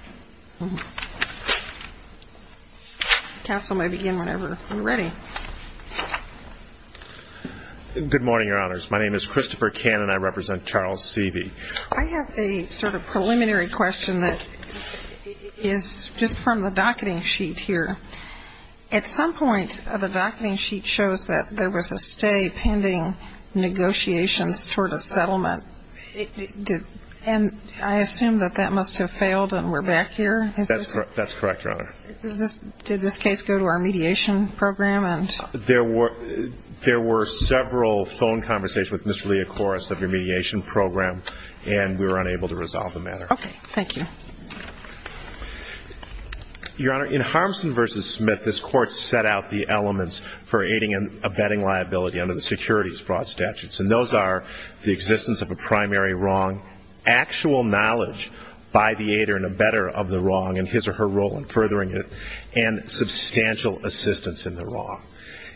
I have a sort of preliminary question that is just from the docketing sheet here. At some point, the docketing sheet shows that there was a stay pending negotiations toward a settlement. And I assume that that must have failed and we're back here? That's correct, Your Honor. Did this case go to our mediation program? There were several phone conversations with Mr. Lee, of course, of your mediation program and we were unable to resolve the matter. Okay. Thank you. Your Honor, in Harmson v. Smith, this Court set out the elements for aiding and abetting liability under the Securities Fraud Statutes. And those are the existence of a primary wrong, actual knowledge by the aider and abetter of the wrong and his or her role in furthering it, and substantial assistance in the wrong.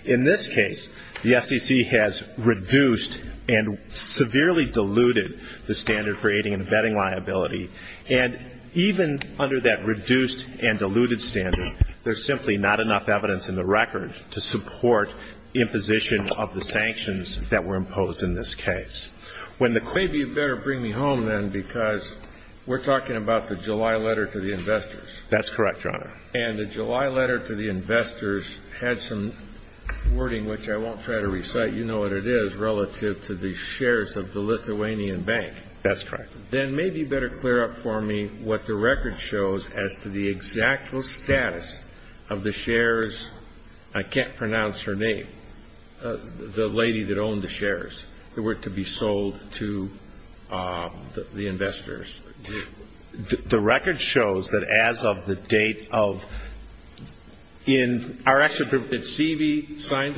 In this case, the SEC has reduced and severely diluted the standard for aiding and abetting liability. And even under that reduced and diluted standard, there's simply not enough evidence in the record to support imposition of the sanctions that were imposed in this case. When the court Maybe you'd better bring me home, then, because we're talking about the July letter to the investors. That's correct, Your Honor. And the July letter to the investors had some wording, which I won't try to recite. You know what it is, relative to the shares of the Lithuanian Bank. That's correct. Then maybe you'd better clear up for me what the record shows as to the exact status of the shares. I can't pronounce her name, the lady that owned the shares that were to be sold to the investors. The record shows that as of the date of the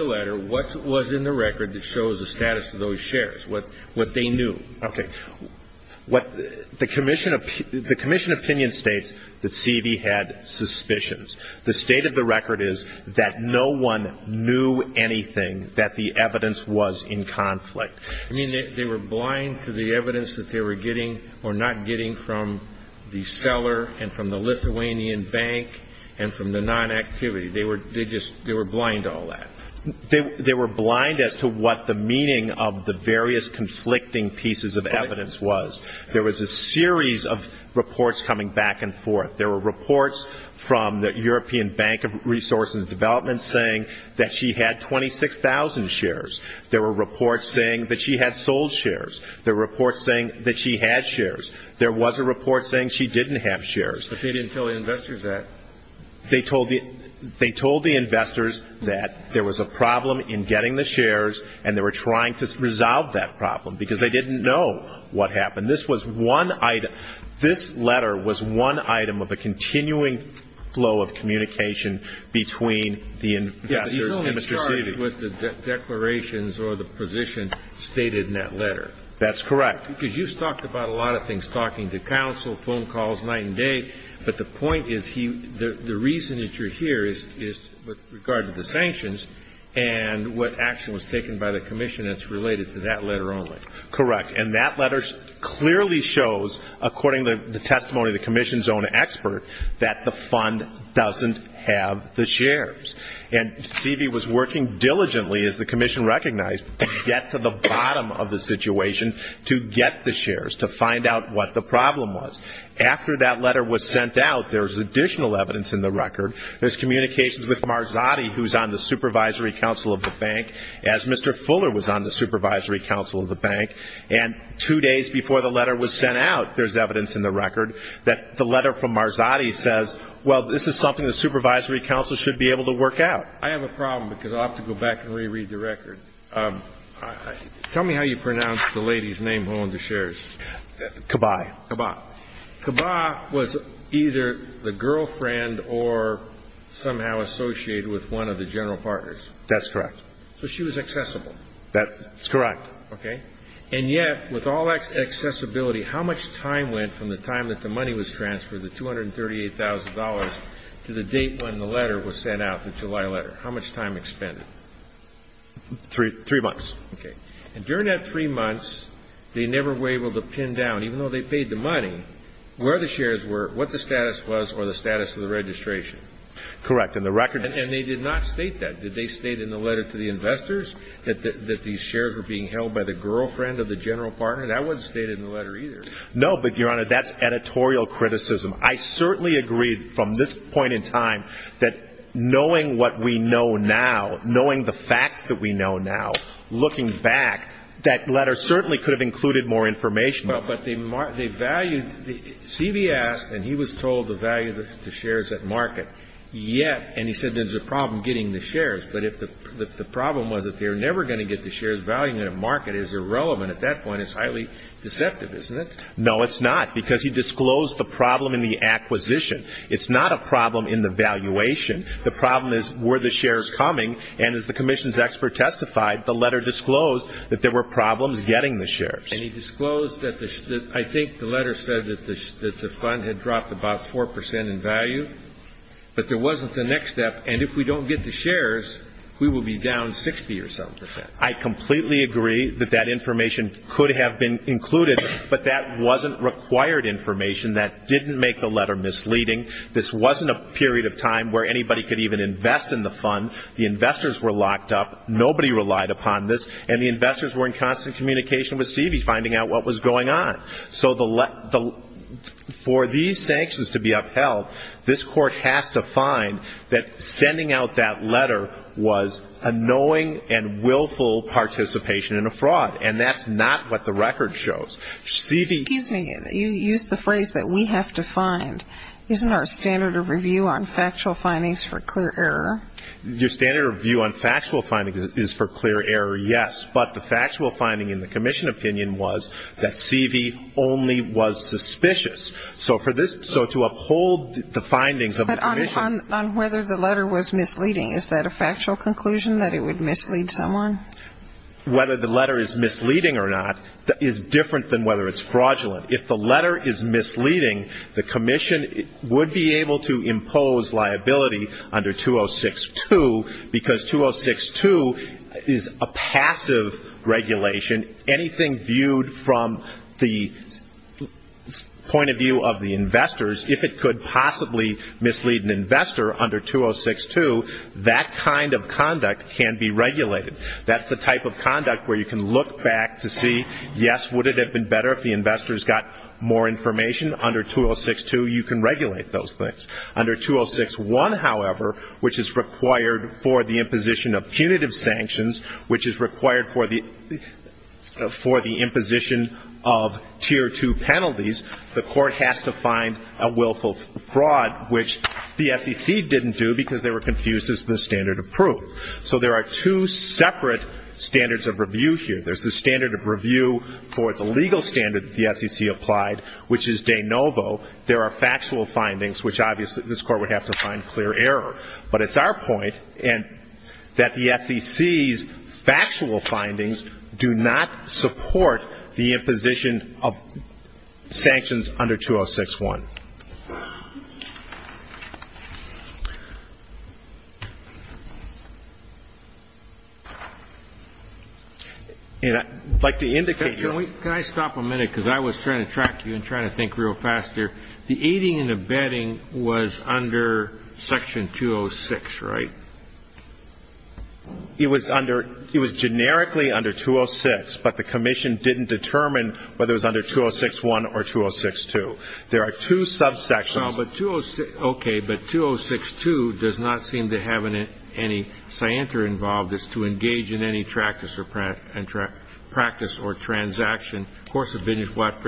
letter, what was in the record that shows the status of those shares, what they knew. Okay. The commission opinion states that Sevey had suspicions. The state of the record is that no one knew anything that the evidence was in conflict. You mean they were blind to the evidence that they were getting or not getting from the seller and from the Lithuanian Bank and from the non-activity? They were blind to all that? They were blind as to what the meaning of the various conflicting pieces of evidence was. There was a series of reports coming back and forth. There were reports from the European Bank of Resources and Development saying that she had 26,000 shares. There were reports saying that she had sold shares. There were reports saying that she had shares. There was a report saying she didn't have shares. But they didn't tell the investors that. They told the investors that there was a problem in getting the shares and they were trying to resolve that problem because they didn't know what happened. This letter was one item of a continuing flow of communication between the investors and Mr. Sevey. Yes, but he's only charged with the declarations or the position stated in that letter. That's correct. Because you've talked about a lot of things, talking to counsel, phone calls night and day, but the point is he the reason that you're here is with regard to the sanctions and what action was taken by the commission that's related to that letter only. Correct. And that letter clearly shows, according to the testimony of the commission's own expert, that the fund doesn't have the shares. And Sevey was working diligently, as the commission recognized, to get to the bottom of the situation to get the shares, to find out what the problem was. After that letter was sent out, there was additional evidence in the record. There's communications with Marzotti, who's on the supervisory counsel of the bank, as Mr. Fuller was on the supervisory counsel of the bank. And two days before the letter was sent out, there's evidence in the record that the letter from Marzotti says, well, this is something the supervisory counsel should be able to work out. I have a problem, because I'll have to go back and reread the record. Tell me how you pronounce the lady's name holding the shares. Kabae. Kabae. Kabae was either the girlfriend or somehow associated with one of the general partners. That's correct. So she was accessible. That's correct. Okay. And yet, with all that accessibility, how much time went from the time that the money was transferred, the $238,000, to the date when the letter was sent out, the July letter? How much time expended? Three months. Okay. And during that three months, they never were able to pin down, even though they paid the money, where the shares were, what the status was, or the status of the registration. Correct. And the record didn't state in the letter to the investors that these shares were being held by the girlfriend of the general partner? That wasn't stated in the letter, either. No, but, Your Honor, that's editorial criticism. I certainly agree, from this point in time, that knowing what we know now, knowing the facts that we know now, looking back, that letter certainly could have included more information. Well, but they valued the CVS, and he was told the value of the shares at market. Yet, and he said there's a problem getting the shares. But if the problem was that they were never going to get the shares, valuing at market is irrelevant at that point. It's highly deceptive, isn't it? No, it's not, because he disclosed the problem in the acquisition. It's not a problem in the valuation. The problem is, were the shares coming? And as the commission's expert testified, the letter disclosed that there were problems getting the shares. And he disclosed that the ‑‑ I think the letter said that the fund had dropped about 4 percent in value, but there wasn't the next step. And if we don't get the shares, we will be down 60 or so percent. I completely agree that that information could have been included, but that wasn't required information that didn't make the letter misleading. This wasn't a period of time where anybody could even invest in the fund. The investors were locked up. Nobody relied upon this. And the investors were in constant communication with CVS, finding out what was going on. So the ‑‑ for these sanctions to be upheld, this Court has to find that sending out that letter was a knowing and willful participation in a fraud. And that's not what the record shows. CV ‑‑ Excuse me. You used the phrase that we have to find. Isn't our standard of review on factual findings for clear error? Your standard of review on factual findings is for clear error, yes. But the factual finding in the commission opinion was that CV only was suspicious. So for this ‑‑ so to uphold the findings of the commission ‑‑ But on whether the letter was misleading, is that a factual conclusion, that it would mislead someone? Whether the letter is misleading or not is different than whether it's fraudulent. If the letter is misleading, the commission would be able to impose liability under 206‑2 because 206‑2 is a passive regulation. Anything viewed from the point of view of the investors, if it could possibly mislead an investor under 206‑2, that kind of conduct can be regulated. That's the type of conduct where you can look back to see, yes, would it have been better if the investors got more information? Under 206‑2, you can regulate those things. Under 206‑1, however, which is required for the imposition of punitive sanctions, which is required for the ‑‑ for the imposition of Tier 2 penalties, the court has to find a willful fraud, which the SEC didn't do because they were confused as the standard of proof. So there are two separate standards of review here. There's the standard of review for the legal standard the SEC applied, which is de novo. There are factual findings, which obviously this Court would have to find clear error. But it's our point that the SEC's factual findings do not support the imposition of sanctions under 206‑1. And I'd like to indicate ‑‑ Can I stop a minute? Because I was trying to track you and trying to think real faster. The aiding and abetting was under section 206, right? It was under ‑‑ it was generically under 206, but the Commission didn't determine whether it was under 206‑1 or 206‑2. There are two subsections. No, but 206 ‑‑ okay, but 206‑2 does not seem to have any scienter involved as to engage in any practice or ‑‑ practice or transaction. Of course, a bidding is what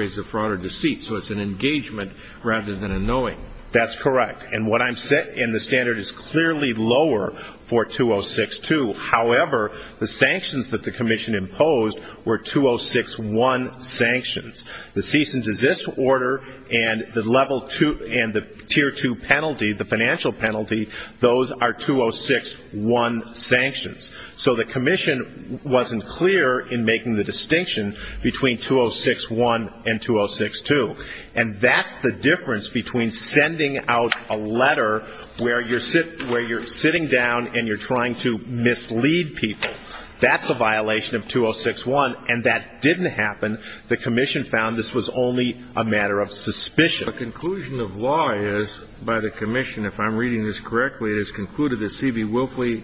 rather than a knowing. That's correct. And what I'm ‑‑ and the standard is clearly lower for 206‑2. However, the sanctions that the Commission imposed were 206‑1 sanctions. The cease and desist order and the level two ‑‑ and the tier two penalty, the financial penalty, those are 206‑1 sanctions. So the Commission wasn't clear in making the distinction between 206‑1 and 206‑2. And that's the difference between sending out a letter where you're sitting down and you're trying to mislead people. That's a violation of 206‑1, and that didn't happen. The Commission found this was only a matter of suspicion. The conclusion of law is, by the Commission, if I'm reading this correctly, it is concluded that C.B. Wilfley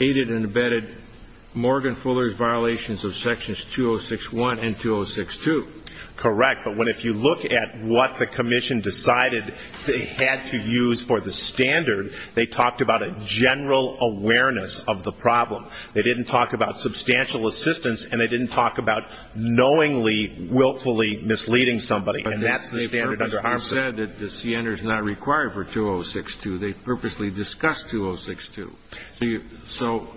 aided and abetted Morgan Fuller's violations of sections 206‑1 and 206‑2. Correct. But when if you look at what the Commission decided they had to use for the standard, they talked about a general awareness of the problem. They didn't talk about substantial assistance, and they didn't talk about knowingly, willfully misleading somebody. And that's the standard under ARMSA. But they purposely said that the C.N.R. is not required for 206‑2. They purposely discussed 206‑2. So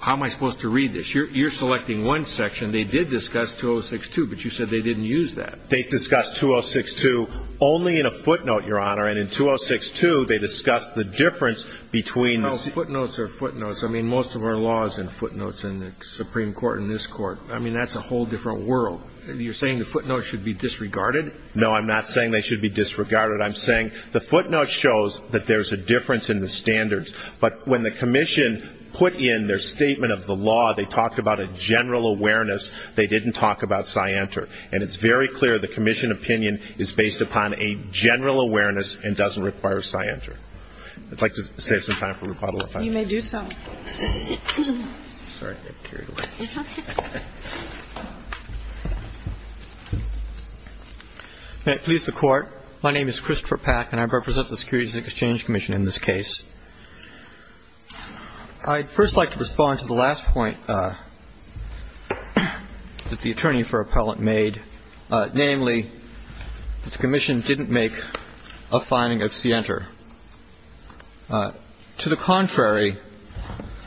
how am I supposed to read this? You're selecting one section. They did discuss 206‑2, but you said they didn't use that. They discussed 206‑2 only in a footnote, Your Honor. And in 206‑2, they discussed the difference between the ‑‑ No, footnotes are footnotes. I mean, most of our law is in footnotes in the Supreme Court and this Court. I mean, that's a whole different world. You're saying the footnotes should be disregarded? No, I'm not saying they should be disregarded. I'm saying the footnote shows that there's a difference in the standards. But when the Commission put in their statement of the law, they talked about a general awareness. They didn't talk about scienter. And it's very clear the Commission opinion is based upon a general awareness and doesn't require scienter. I'd like to save some time for rebuttal, if I may. You may do so. May it please the Court, my name is Christopher Pack and I represent the Securities and Exchange Commission in this case. I'd first like to respond to the last point that the attorney for appellant made, namely, that the Commission didn't make a finding of scienter. To the contrary,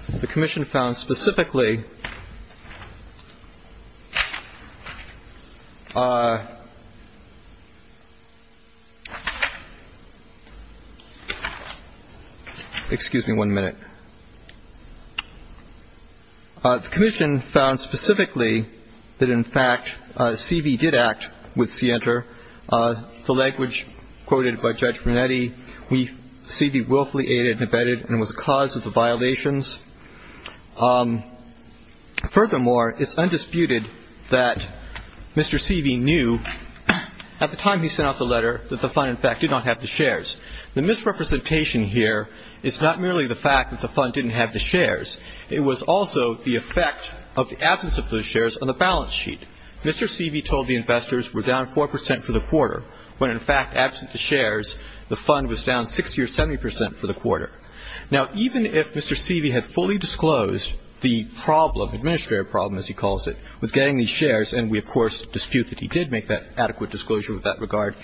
the Commission found specifically that the appellant did not make a finding of scienter. Excuse me one minute. The Commission found specifically that, in fact, C.V. did act with scienter. The language quoted by Judge Brunetti, C.V. willfully aided and abetted and was a cause of the violations. Furthermore, it's undisputed that Mr. C.V. knew at the time he sent out the letter that the fund, in fact, did not have the shares. The misrepresentation here is not merely the fact that the fund didn't have the shares. It was also the effect of the absence of those shares on the balance sheet. Mr. C.V. told the investors we're down 4% for the quarter, when in fact, absent the shares, the fund was down 60 or 70% for the quarter. Now even if Mr. C.V. had fully disclosed the problem, administrative problem as he calls it, with getting these shares, and we of course dispute that he did make that adequate disclosure with that regard,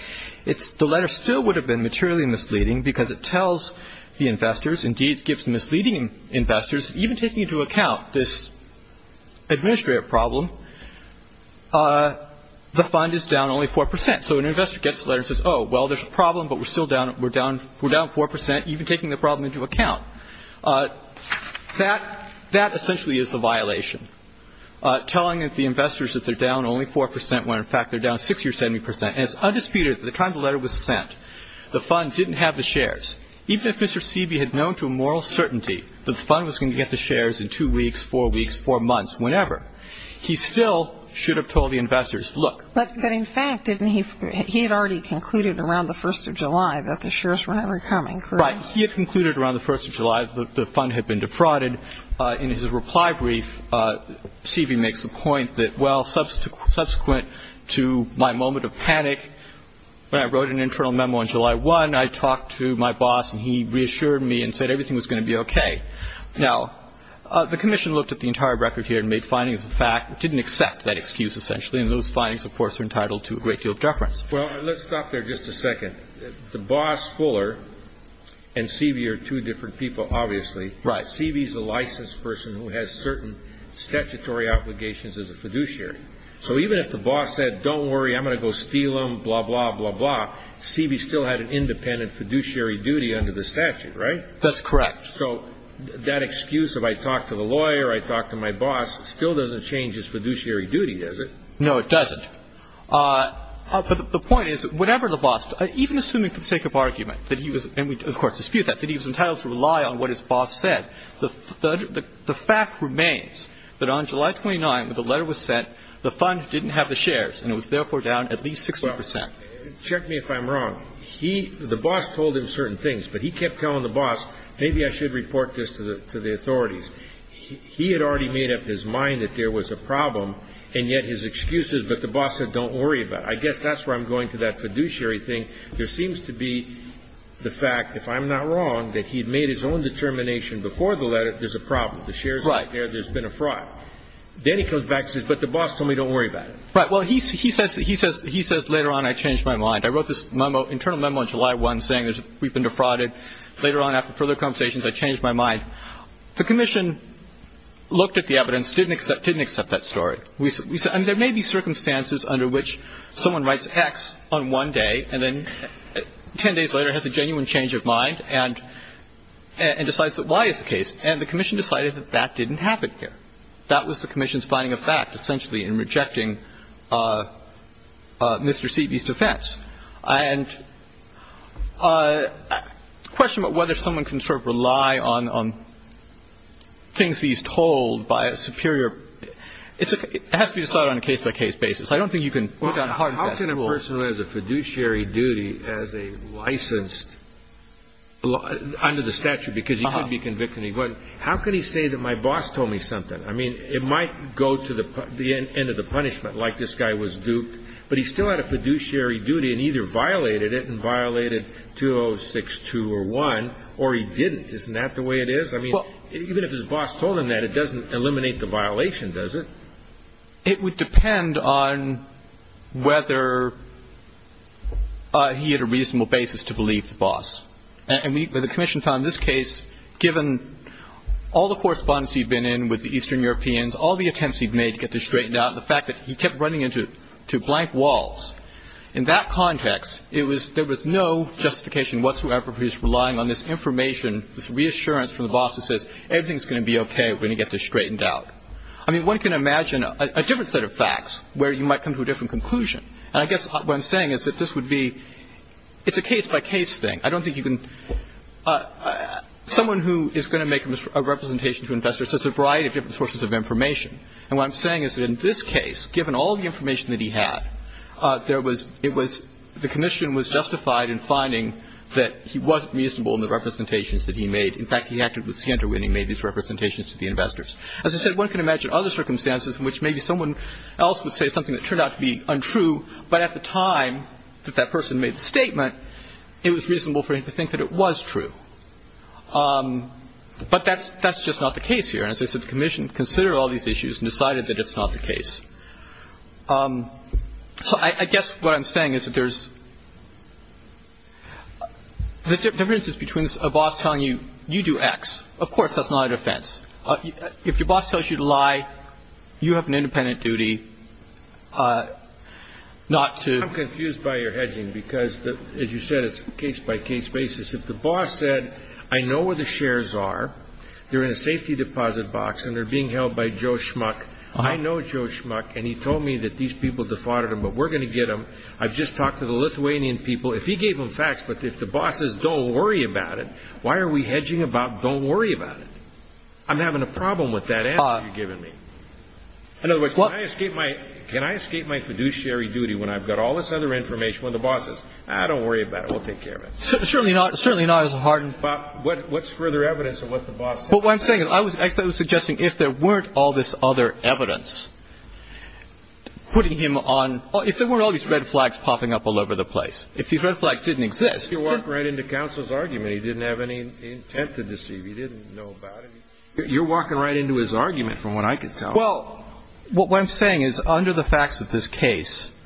it's the letter still would have been materially misleading because it tells the investors, indeed it gives the misleading investors, even taking into account this administrative problem, the fund is down only 4%. So an investor gets the letter and says, oh, well, there's a problem, but we're still down, we're down, we're down 4%, even taking the problem into account. That essentially is a violation, telling the investors that they're down only 4% when in fact, they're down 60 or 70%. And it's undisputed that the time the letter was sent, the fund didn't have the shares. Even if Mr. C.V. had known to a moral certainty that the fund was going to get the shares in two weeks, four weeks, four months, whenever, he still should have told the investors, look. But in fact, didn't he, he had already concluded around the 1st of July that the shares were never coming, correct? Right. He had concluded around the 1st of July that the fund had been defrauded. In his reply brief, C.V. makes the point that, well, subsequent to my moment of panic, when I wrote an internal memo on July 1, I talked to my boss and he reassured me and said everything was going to be okay. Now, the commission looked at the entire record here and made findings that didn't accept that excuse, essentially, and those findings, of course, are entitled to a great deal of deference. Well, let's stop there just a second. The boss, Fuller, and C.V. are two different people, obviously. Right. C.V.'s a licensed person who has certain statutory obligations as a fiduciary. So even if the boss said, don't worry, I'm going to go steal them, blah, blah, blah, blah, C.V. still had an independent fiduciary duty under the statute, right? That's correct. So that excuse of I talked to the lawyer, I talked to my boss, still doesn't change his fiduciary duty, does it? No, it doesn't. But the point is, whenever the boss, even assuming for the sake of argument that he was entitled to rely on what his boss said, the fact remains that on July 29, when the letter was sent, the fund didn't have the shares, and it was therefore down at least 60 percent. Well, check me if I'm wrong. He, the boss, told him certain things, but he kept telling the boss, maybe I should report this to the authorities. He had already made up his mind that there was a problem, and yet his excuses, but the boss said, don't worry about it. I guess that's where I'm going to that fiduciary thing. There seems to be the fact, if I'm not wrong, that he had made his own determination before the letter that there's a problem, the shares aren't there, there's been a fraud. Then he comes back and says, but the boss told me, don't worry about it. Right. Well, he says later on, I changed my mind. I wrote this memo, internal memo on July 1 saying we've been defrauded. Later on, after further conversations, I changed my mind. The commission looked at the evidence, didn't accept that story. We said, I mean, there may be circumstances under which someone writes X on one day and then 10 days later has a genuine change of mind and decides that Y is the case. And the commission decided that that didn't happen here. That was the commission's finding of fact, essentially, in rejecting Mr. Seiby's defense. And the question about whether someone can sort of rely on things he's told by a superior – it has to be decided on a case-by-case basis. I don't think you can work on hard and fast rules. But how can a person who has a fiduciary duty as a licensed – under the statute, because he could be convicted and he wouldn't – how can he say that my boss told me something? I mean, it might go to the end of the punishment, like this guy was duped, but he still had a fiduciary duty and either violated it and violated 206-2 or 1, or he didn't. Isn't that the way it is? I mean, even if his boss told him that, it doesn't eliminate the violation, does it? It would depend on whether he had a reasonable basis to believe the boss. And the commission found in this case, given all the correspondence he'd been in with the Eastern Europeans, all the attempts he'd made to get this straightened out, and the fact that he kept running into blank walls, in that context, it was – there was no justification whatsoever for his relying on this information, this reassurance from the boss that says, everything's going to be okay, we're going to get this straightened out. I mean, one can imagine a different set of facts where you might come to a different conclusion. And I guess what I'm saying is that this would be – it's a case-by-case thing. I don't think you can – someone who is going to make a representation to investors has a variety of different sources of information. And what I'm saying is that in this case, given all the information that he had, there was – it was – the commission was justified in finding that he wasn't reasonable in the representations that he made. In fact, he acted with scienter when he made these representations to the investors. As I said, one can imagine other circumstances in which maybe someone else would say something that turned out to be untrue, but at the time that that person made the statement, it was reasonable for him to think that it was true. But that's – that's just not the case here. And as I said, the commission considered all these issues and decided that it's not the case. So I guess what I'm saying is that there's – the difference is between a boss telling you, you do X. Of course that's not a defense. If your boss tells you to lie, you have an independent duty not to – I'm confused by your hedging because, as you said, it's a case-by-case basis. If the boss said, I know where the shares are, they're in a safety deposit box, and they're being held by Joe Schmuck, I know Joe Schmuck, and he told me that these people defrauded him, but we're going to get him. I've just talked to the Lithuanian people. If he gave them facts, but if the boss says, don't worry about it, why are we hedging about I'm having a problem with that answer you're giving me. In other words, can I escape my fiduciary duty when I've got all this other information when the boss says, don't worry about it, we'll take care of it? Certainly not. It's certainly not as hard. But what's further evidence of what the boss said? But what I'm saying is, I was suggesting if there weren't all this other evidence putting him on – if there weren't all these red flags popping up all over the place, if these red flags didn't exist – But you're walking right into counsel's argument. He didn't have any intent to deceive. He didn't know about it. You're walking right into his argument, from what I can tell. Well, what I'm saying is, under the facts of this case –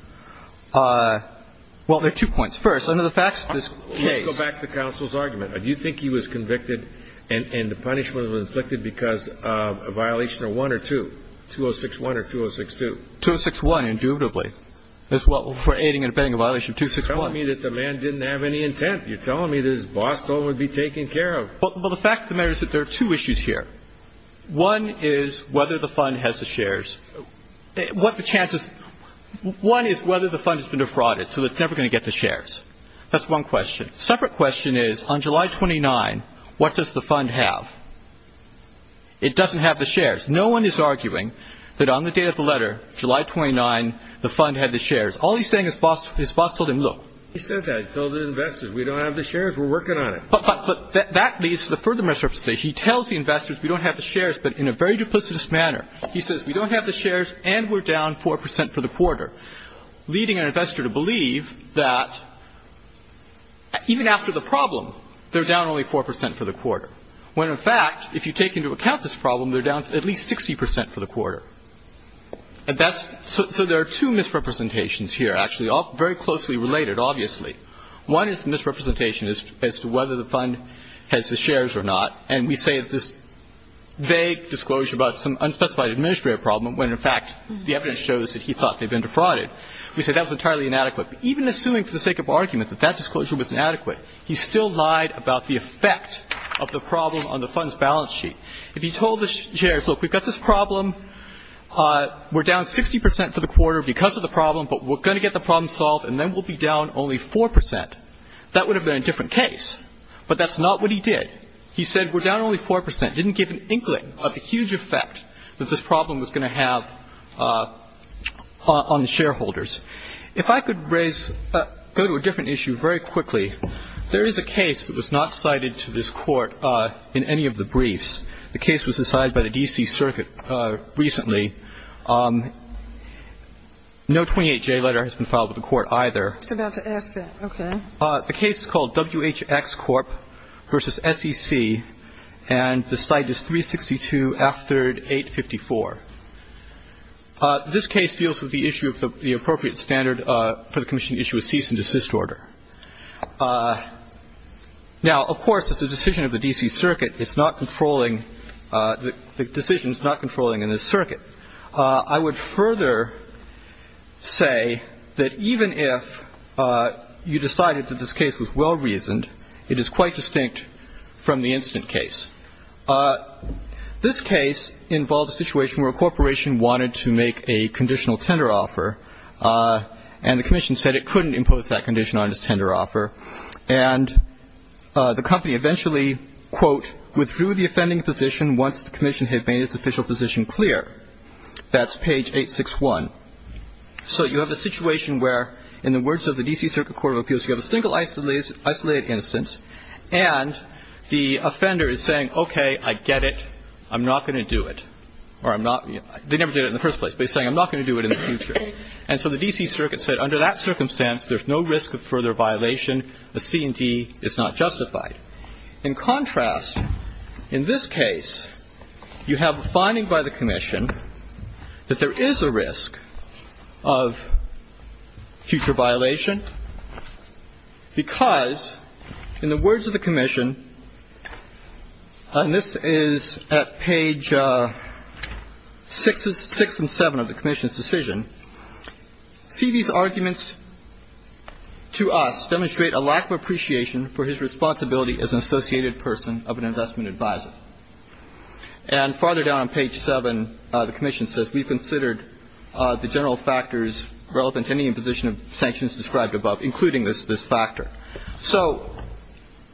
well, there are two points. First, under the facts of this case – Let's go back to counsel's argument. Do you think he was convicted and the punishment was inflicted because of a violation of 1 or 2? 206-1 or 206-2? 206-1, intuitively. For aiding and abetting a violation of 206-1. You're telling me that the man didn't have any intent. You're telling me that his boss told him it would be taken care of. Well, the fact of the matter is that there are two issues here. One is whether the fund has the shares. What the chances – one is whether the fund has been defrauded, so it's never going to get the shares. That's one question. A separate question is, on July 29, what does the fund have? It doesn't have the shares. No one is arguing that on the date of the letter, July 29, the fund had the shares. All he's saying is his boss told him, look. He said that. He told the investors. We don't have the shares. We're working on it. But that leads to the further misrepresentation. He tells the investors we don't have the shares, but in a very duplicitous manner. He says we don't have the shares and we're down 4 percent for the quarter, leading an investor to believe that even after the problem, they're down only 4 percent for the quarter, when, in fact, if you take into account this problem, they're down at least 60 percent for the quarter. And that's so there are two misrepresentations here, actually, all very closely related, obviously. One is the misrepresentation as to whether the fund has the shares or not, and we say that this vague disclosure about some unspecified administrative problem when, in fact, the evidence shows that he thought they'd been defrauded. We say that was entirely inadequate. Even assuming for the sake of argument that that disclosure was inadequate, he still lied about the effect of the problem on the fund's balance sheet. If he told the shares, look, we've got this problem, we're down 60 percent for the quarter because of the problem, but we're going to get the problem solved, and then we'll be down only 4 percent, that would have been a different case. But that's not what he did. He said we're down only 4 percent, didn't give an inkling of the huge effect that this problem was going to have on the shareholders. If I could raise go to a different issue very quickly, there is a case that was not cited to this Court in any of the briefs. The case was decided by the D.C. Circuit recently. No 28J letter has been filed with the Court either. I was just about to ask that. Okay. The case is called WHX Corp. v. SEC, and the cite is 362 F3rd 854. This case deals with the issue of the appropriate standard for the commission to issue a cease and desist order. Now, of course, this is a decision of the D.C. Circuit. It's not controlling the decisions, not controlling in this circuit. I would further say that even if you decided that this case was well-reasoned, it is quite distinct from the incident case. This case involved a situation where a corporation wanted to make a conditional tender offer, and the commission said it couldn't impose that condition on its tender offer. And the company eventually, quote, withdrew the offending position once the commission had made its official position clear. That's page 861. So you have a situation where, in the words of the D.C. Circuit Court of Appeals, you have a single isolated instance, and the offender is saying, okay, I get it. I'm not going to do it. Or I'm not. They never did it in the first place, but he's saying I'm not going to do it in the future. And so the D.C. Circuit said under that circumstance, there's no risk of further violation. The C&D is not justified. In contrast, in this case, you have a finding by the commission that there is a risk of future violation, because in the words of the commission, and this is at page 6 and 7 of the commission's decision, C.B.'s arguments to us demonstrate a lack of appreciation for his responsibility as an associated person of an investment advisor. And farther down on page 7, the commission says we've considered the general factors relevant to any imposition of sanctions described above, including this factor. So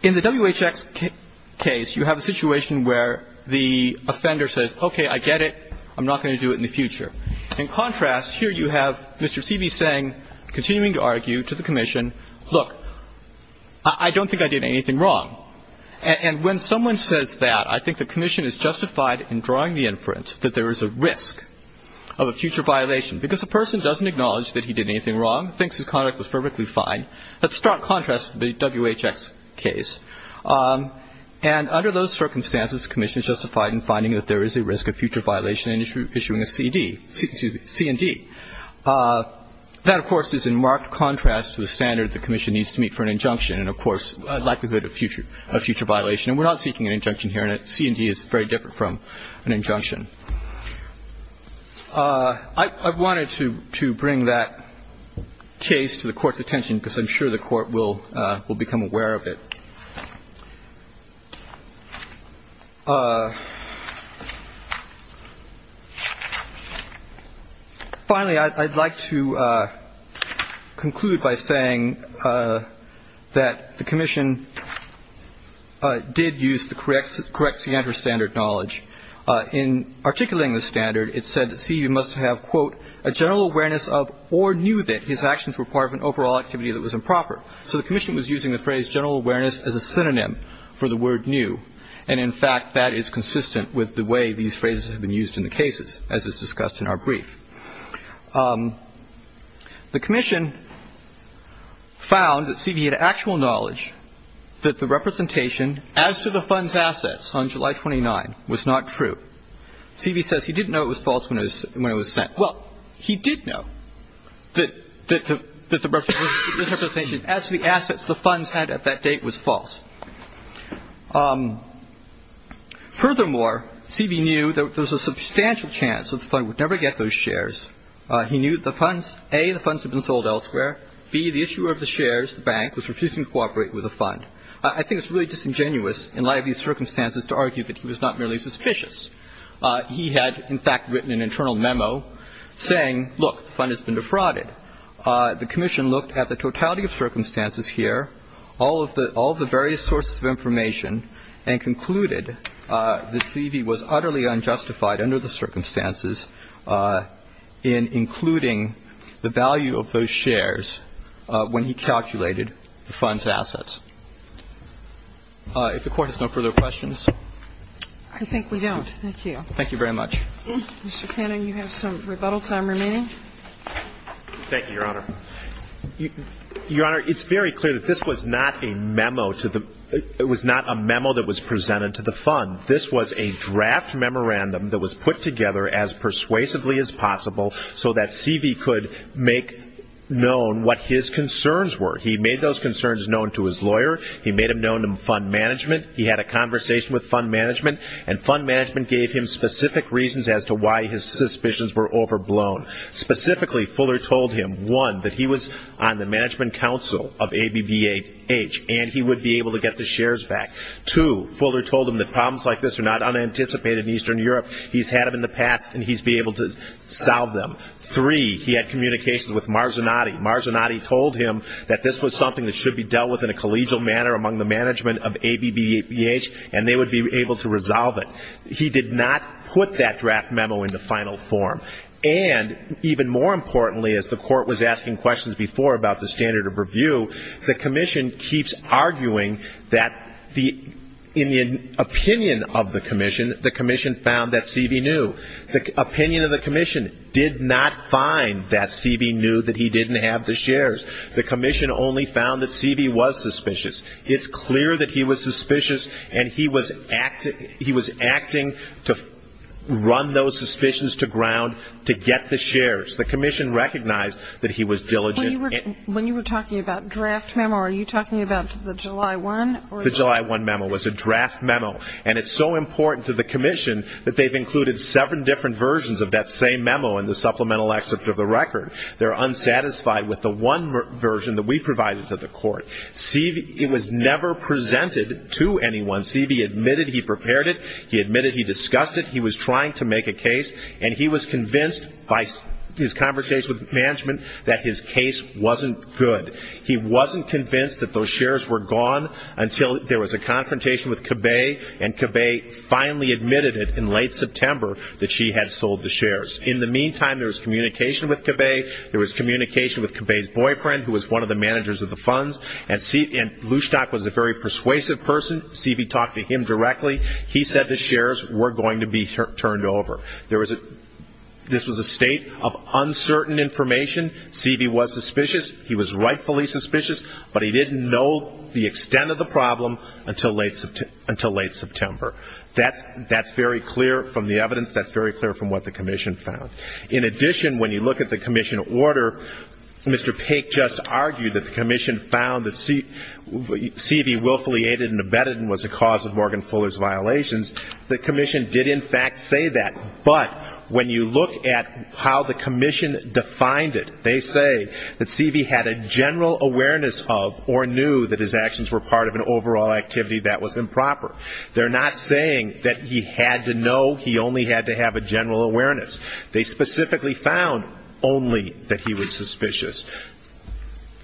in the WHX case, you have a situation where the offender says, okay, I get it. I'm not going to do it in the future. In contrast, here you have Mr. C.B. saying, continuing to argue to the commission, look, I don't think I did anything wrong. And when someone says that, I think the commission is justified in drawing the inference that there is a risk of a future violation, because the person doesn't acknowledge that he did anything wrong, thinks his conduct was perfectly fine. Let's start contrasting the WHX case. And under those circumstances, the commission is justified in finding that there is a risk of a future violation and issuing a C.D. C and D. That, of course, is in marked contrast to the standard the commission needs to meet for an injunction and, of course, a likelihood of future violation. And we're not seeking an injunction here, and C and D is very different from an injunction. I wanted to bring that case to the Court's attention, because I'm sure the Court will become aware of it. Finally, I'd like to conclude by saying that the commission did use the correct standard knowledge. In articulating the standard, it said that C.B. must have, quote, a general awareness of or knew that his actions were part of an overall activity that was improper. So the commission was using the phrase general awareness as a synonym for a general It was using it as a synonym for the word knew, and, in fact, that is consistent with the way these phrases have been used in the cases, as is discussed in our brief. The commission found that C.B. had actual knowledge that the representation as to the fund's assets on July 29 was not true. C.B. says he didn't know it was false when it was sent. Well, he did know that the representation as to the assets the funds had at that date was false. Furthermore, C.B. knew that there was a substantial chance that the fund would never get those shares. He knew that the funds, A, the funds had been sold elsewhere. B, the issuer of the shares, the bank, was refusing to cooperate with the fund. I think it's really disingenuous in light of these circumstances to argue that he was not merely suspicious. He had, in fact, written an internal memo saying, look, the fund has been defrauded. The commission looked at the totality of circumstances here, all of the various sources of information, and concluded that C.B. was utterly unjustified under the circumstances in including the value of those shares when he calculated the fund's assets. If the Court has no further questions. I think we don't. Thank you. Thank you very much. Mr. Cannon, you have some rebuttal time remaining. Thank you, Your Honor. Your Honor, it's very clear that this was not a memo that was presented to the fund. This was a draft memorandum that was put together as persuasively as possible so that C.B. could make known what his concerns were. He made those concerns known to his lawyer. He made them known to fund management. He had a conversation with fund management, and fund management gave him specific reasons as to why his suspicions were overblown. Specifically, Fuller told him, one, that he was on the management council of ABBH, and he would be able to get the shares back. Two, Fuller told him that problems like this are not unanticipated in Eastern Europe. He's had them in the past, and he's been able to solve them. Three, he had communications with Marzanotti. Marzanotti told him that this was something that should be dealt with in a collegial manner among the management of ABBH, and they would be able to resolve it. He did not put that draft memo into final form. And even more importantly, as the court was asking questions before about the standard of review, the commission keeps arguing that in the opinion of the commission, the commission found that C.B. knew. The opinion of the commission did not find that C.B. knew that he didn't have the shares. The commission only found that C.B. was suspicious. It's clear that he was suspicious, and he was acting to run those suspicions to ground to get the shares. The commission recognized that he was diligent. When you were talking about draft memo, are you talking about the July 1? The July 1 memo was a draft memo, and it's so important to the commission that they've included seven different versions of that same memo in the supplemental excerpt of the record. They're unsatisfied with the one version that we provided to the court. C.B. was never presented to anyone. C.B. admitted he prepared it. He admitted he discussed it. He was trying to make a case, and he was convinced by his conversation with management that his case wasn't good. He wasn't convinced that those shares were gone until there was a confrontation with Cabay, and Cabay finally admitted it in late September that she had sold the shares. In the meantime, there was communication with Cabay. There was communication with Cabay's boyfriend, who was one of the managers of the funds, and Lushtak was a very persuasive person. C.B. talked to him directly. He said the shares were going to be turned over. This was a state of uncertain information. C.B. was suspicious. He was rightfully suspicious, but he didn't know the extent of the problem until late September. That's very clear from the evidence. That's very clear from what the commission found. In addition, when you look at the commission order, Mr. Paik just argued that the commission found that C.B. willfully aided and abetted and was the cause of Morgan Fuller's violations. The commission did, in fact, say that. But when you look at how the commission defined it, they say that C.B. had a general awareness of or knew that his actions were part of an overall activity that was improper. They're not saying that he had to know, he only had to have a general awareness. They specifically found only that he was suspicious.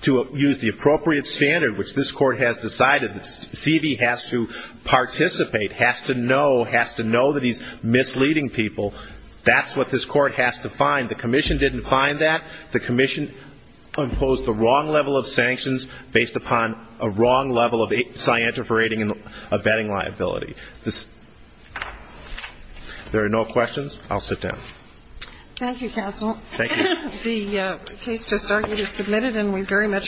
To use the appropriate standard, which this court has decided that C.B. has to participate, has to know, has to know that he's misleading people, that's what this court has defined. The commission didn't find that. The commission imposed the wrong level of sanctions based upon a wrong level of scientific rating and abetting liability. There are no questions. I'll sit down. Thank you, counsel. Thank you.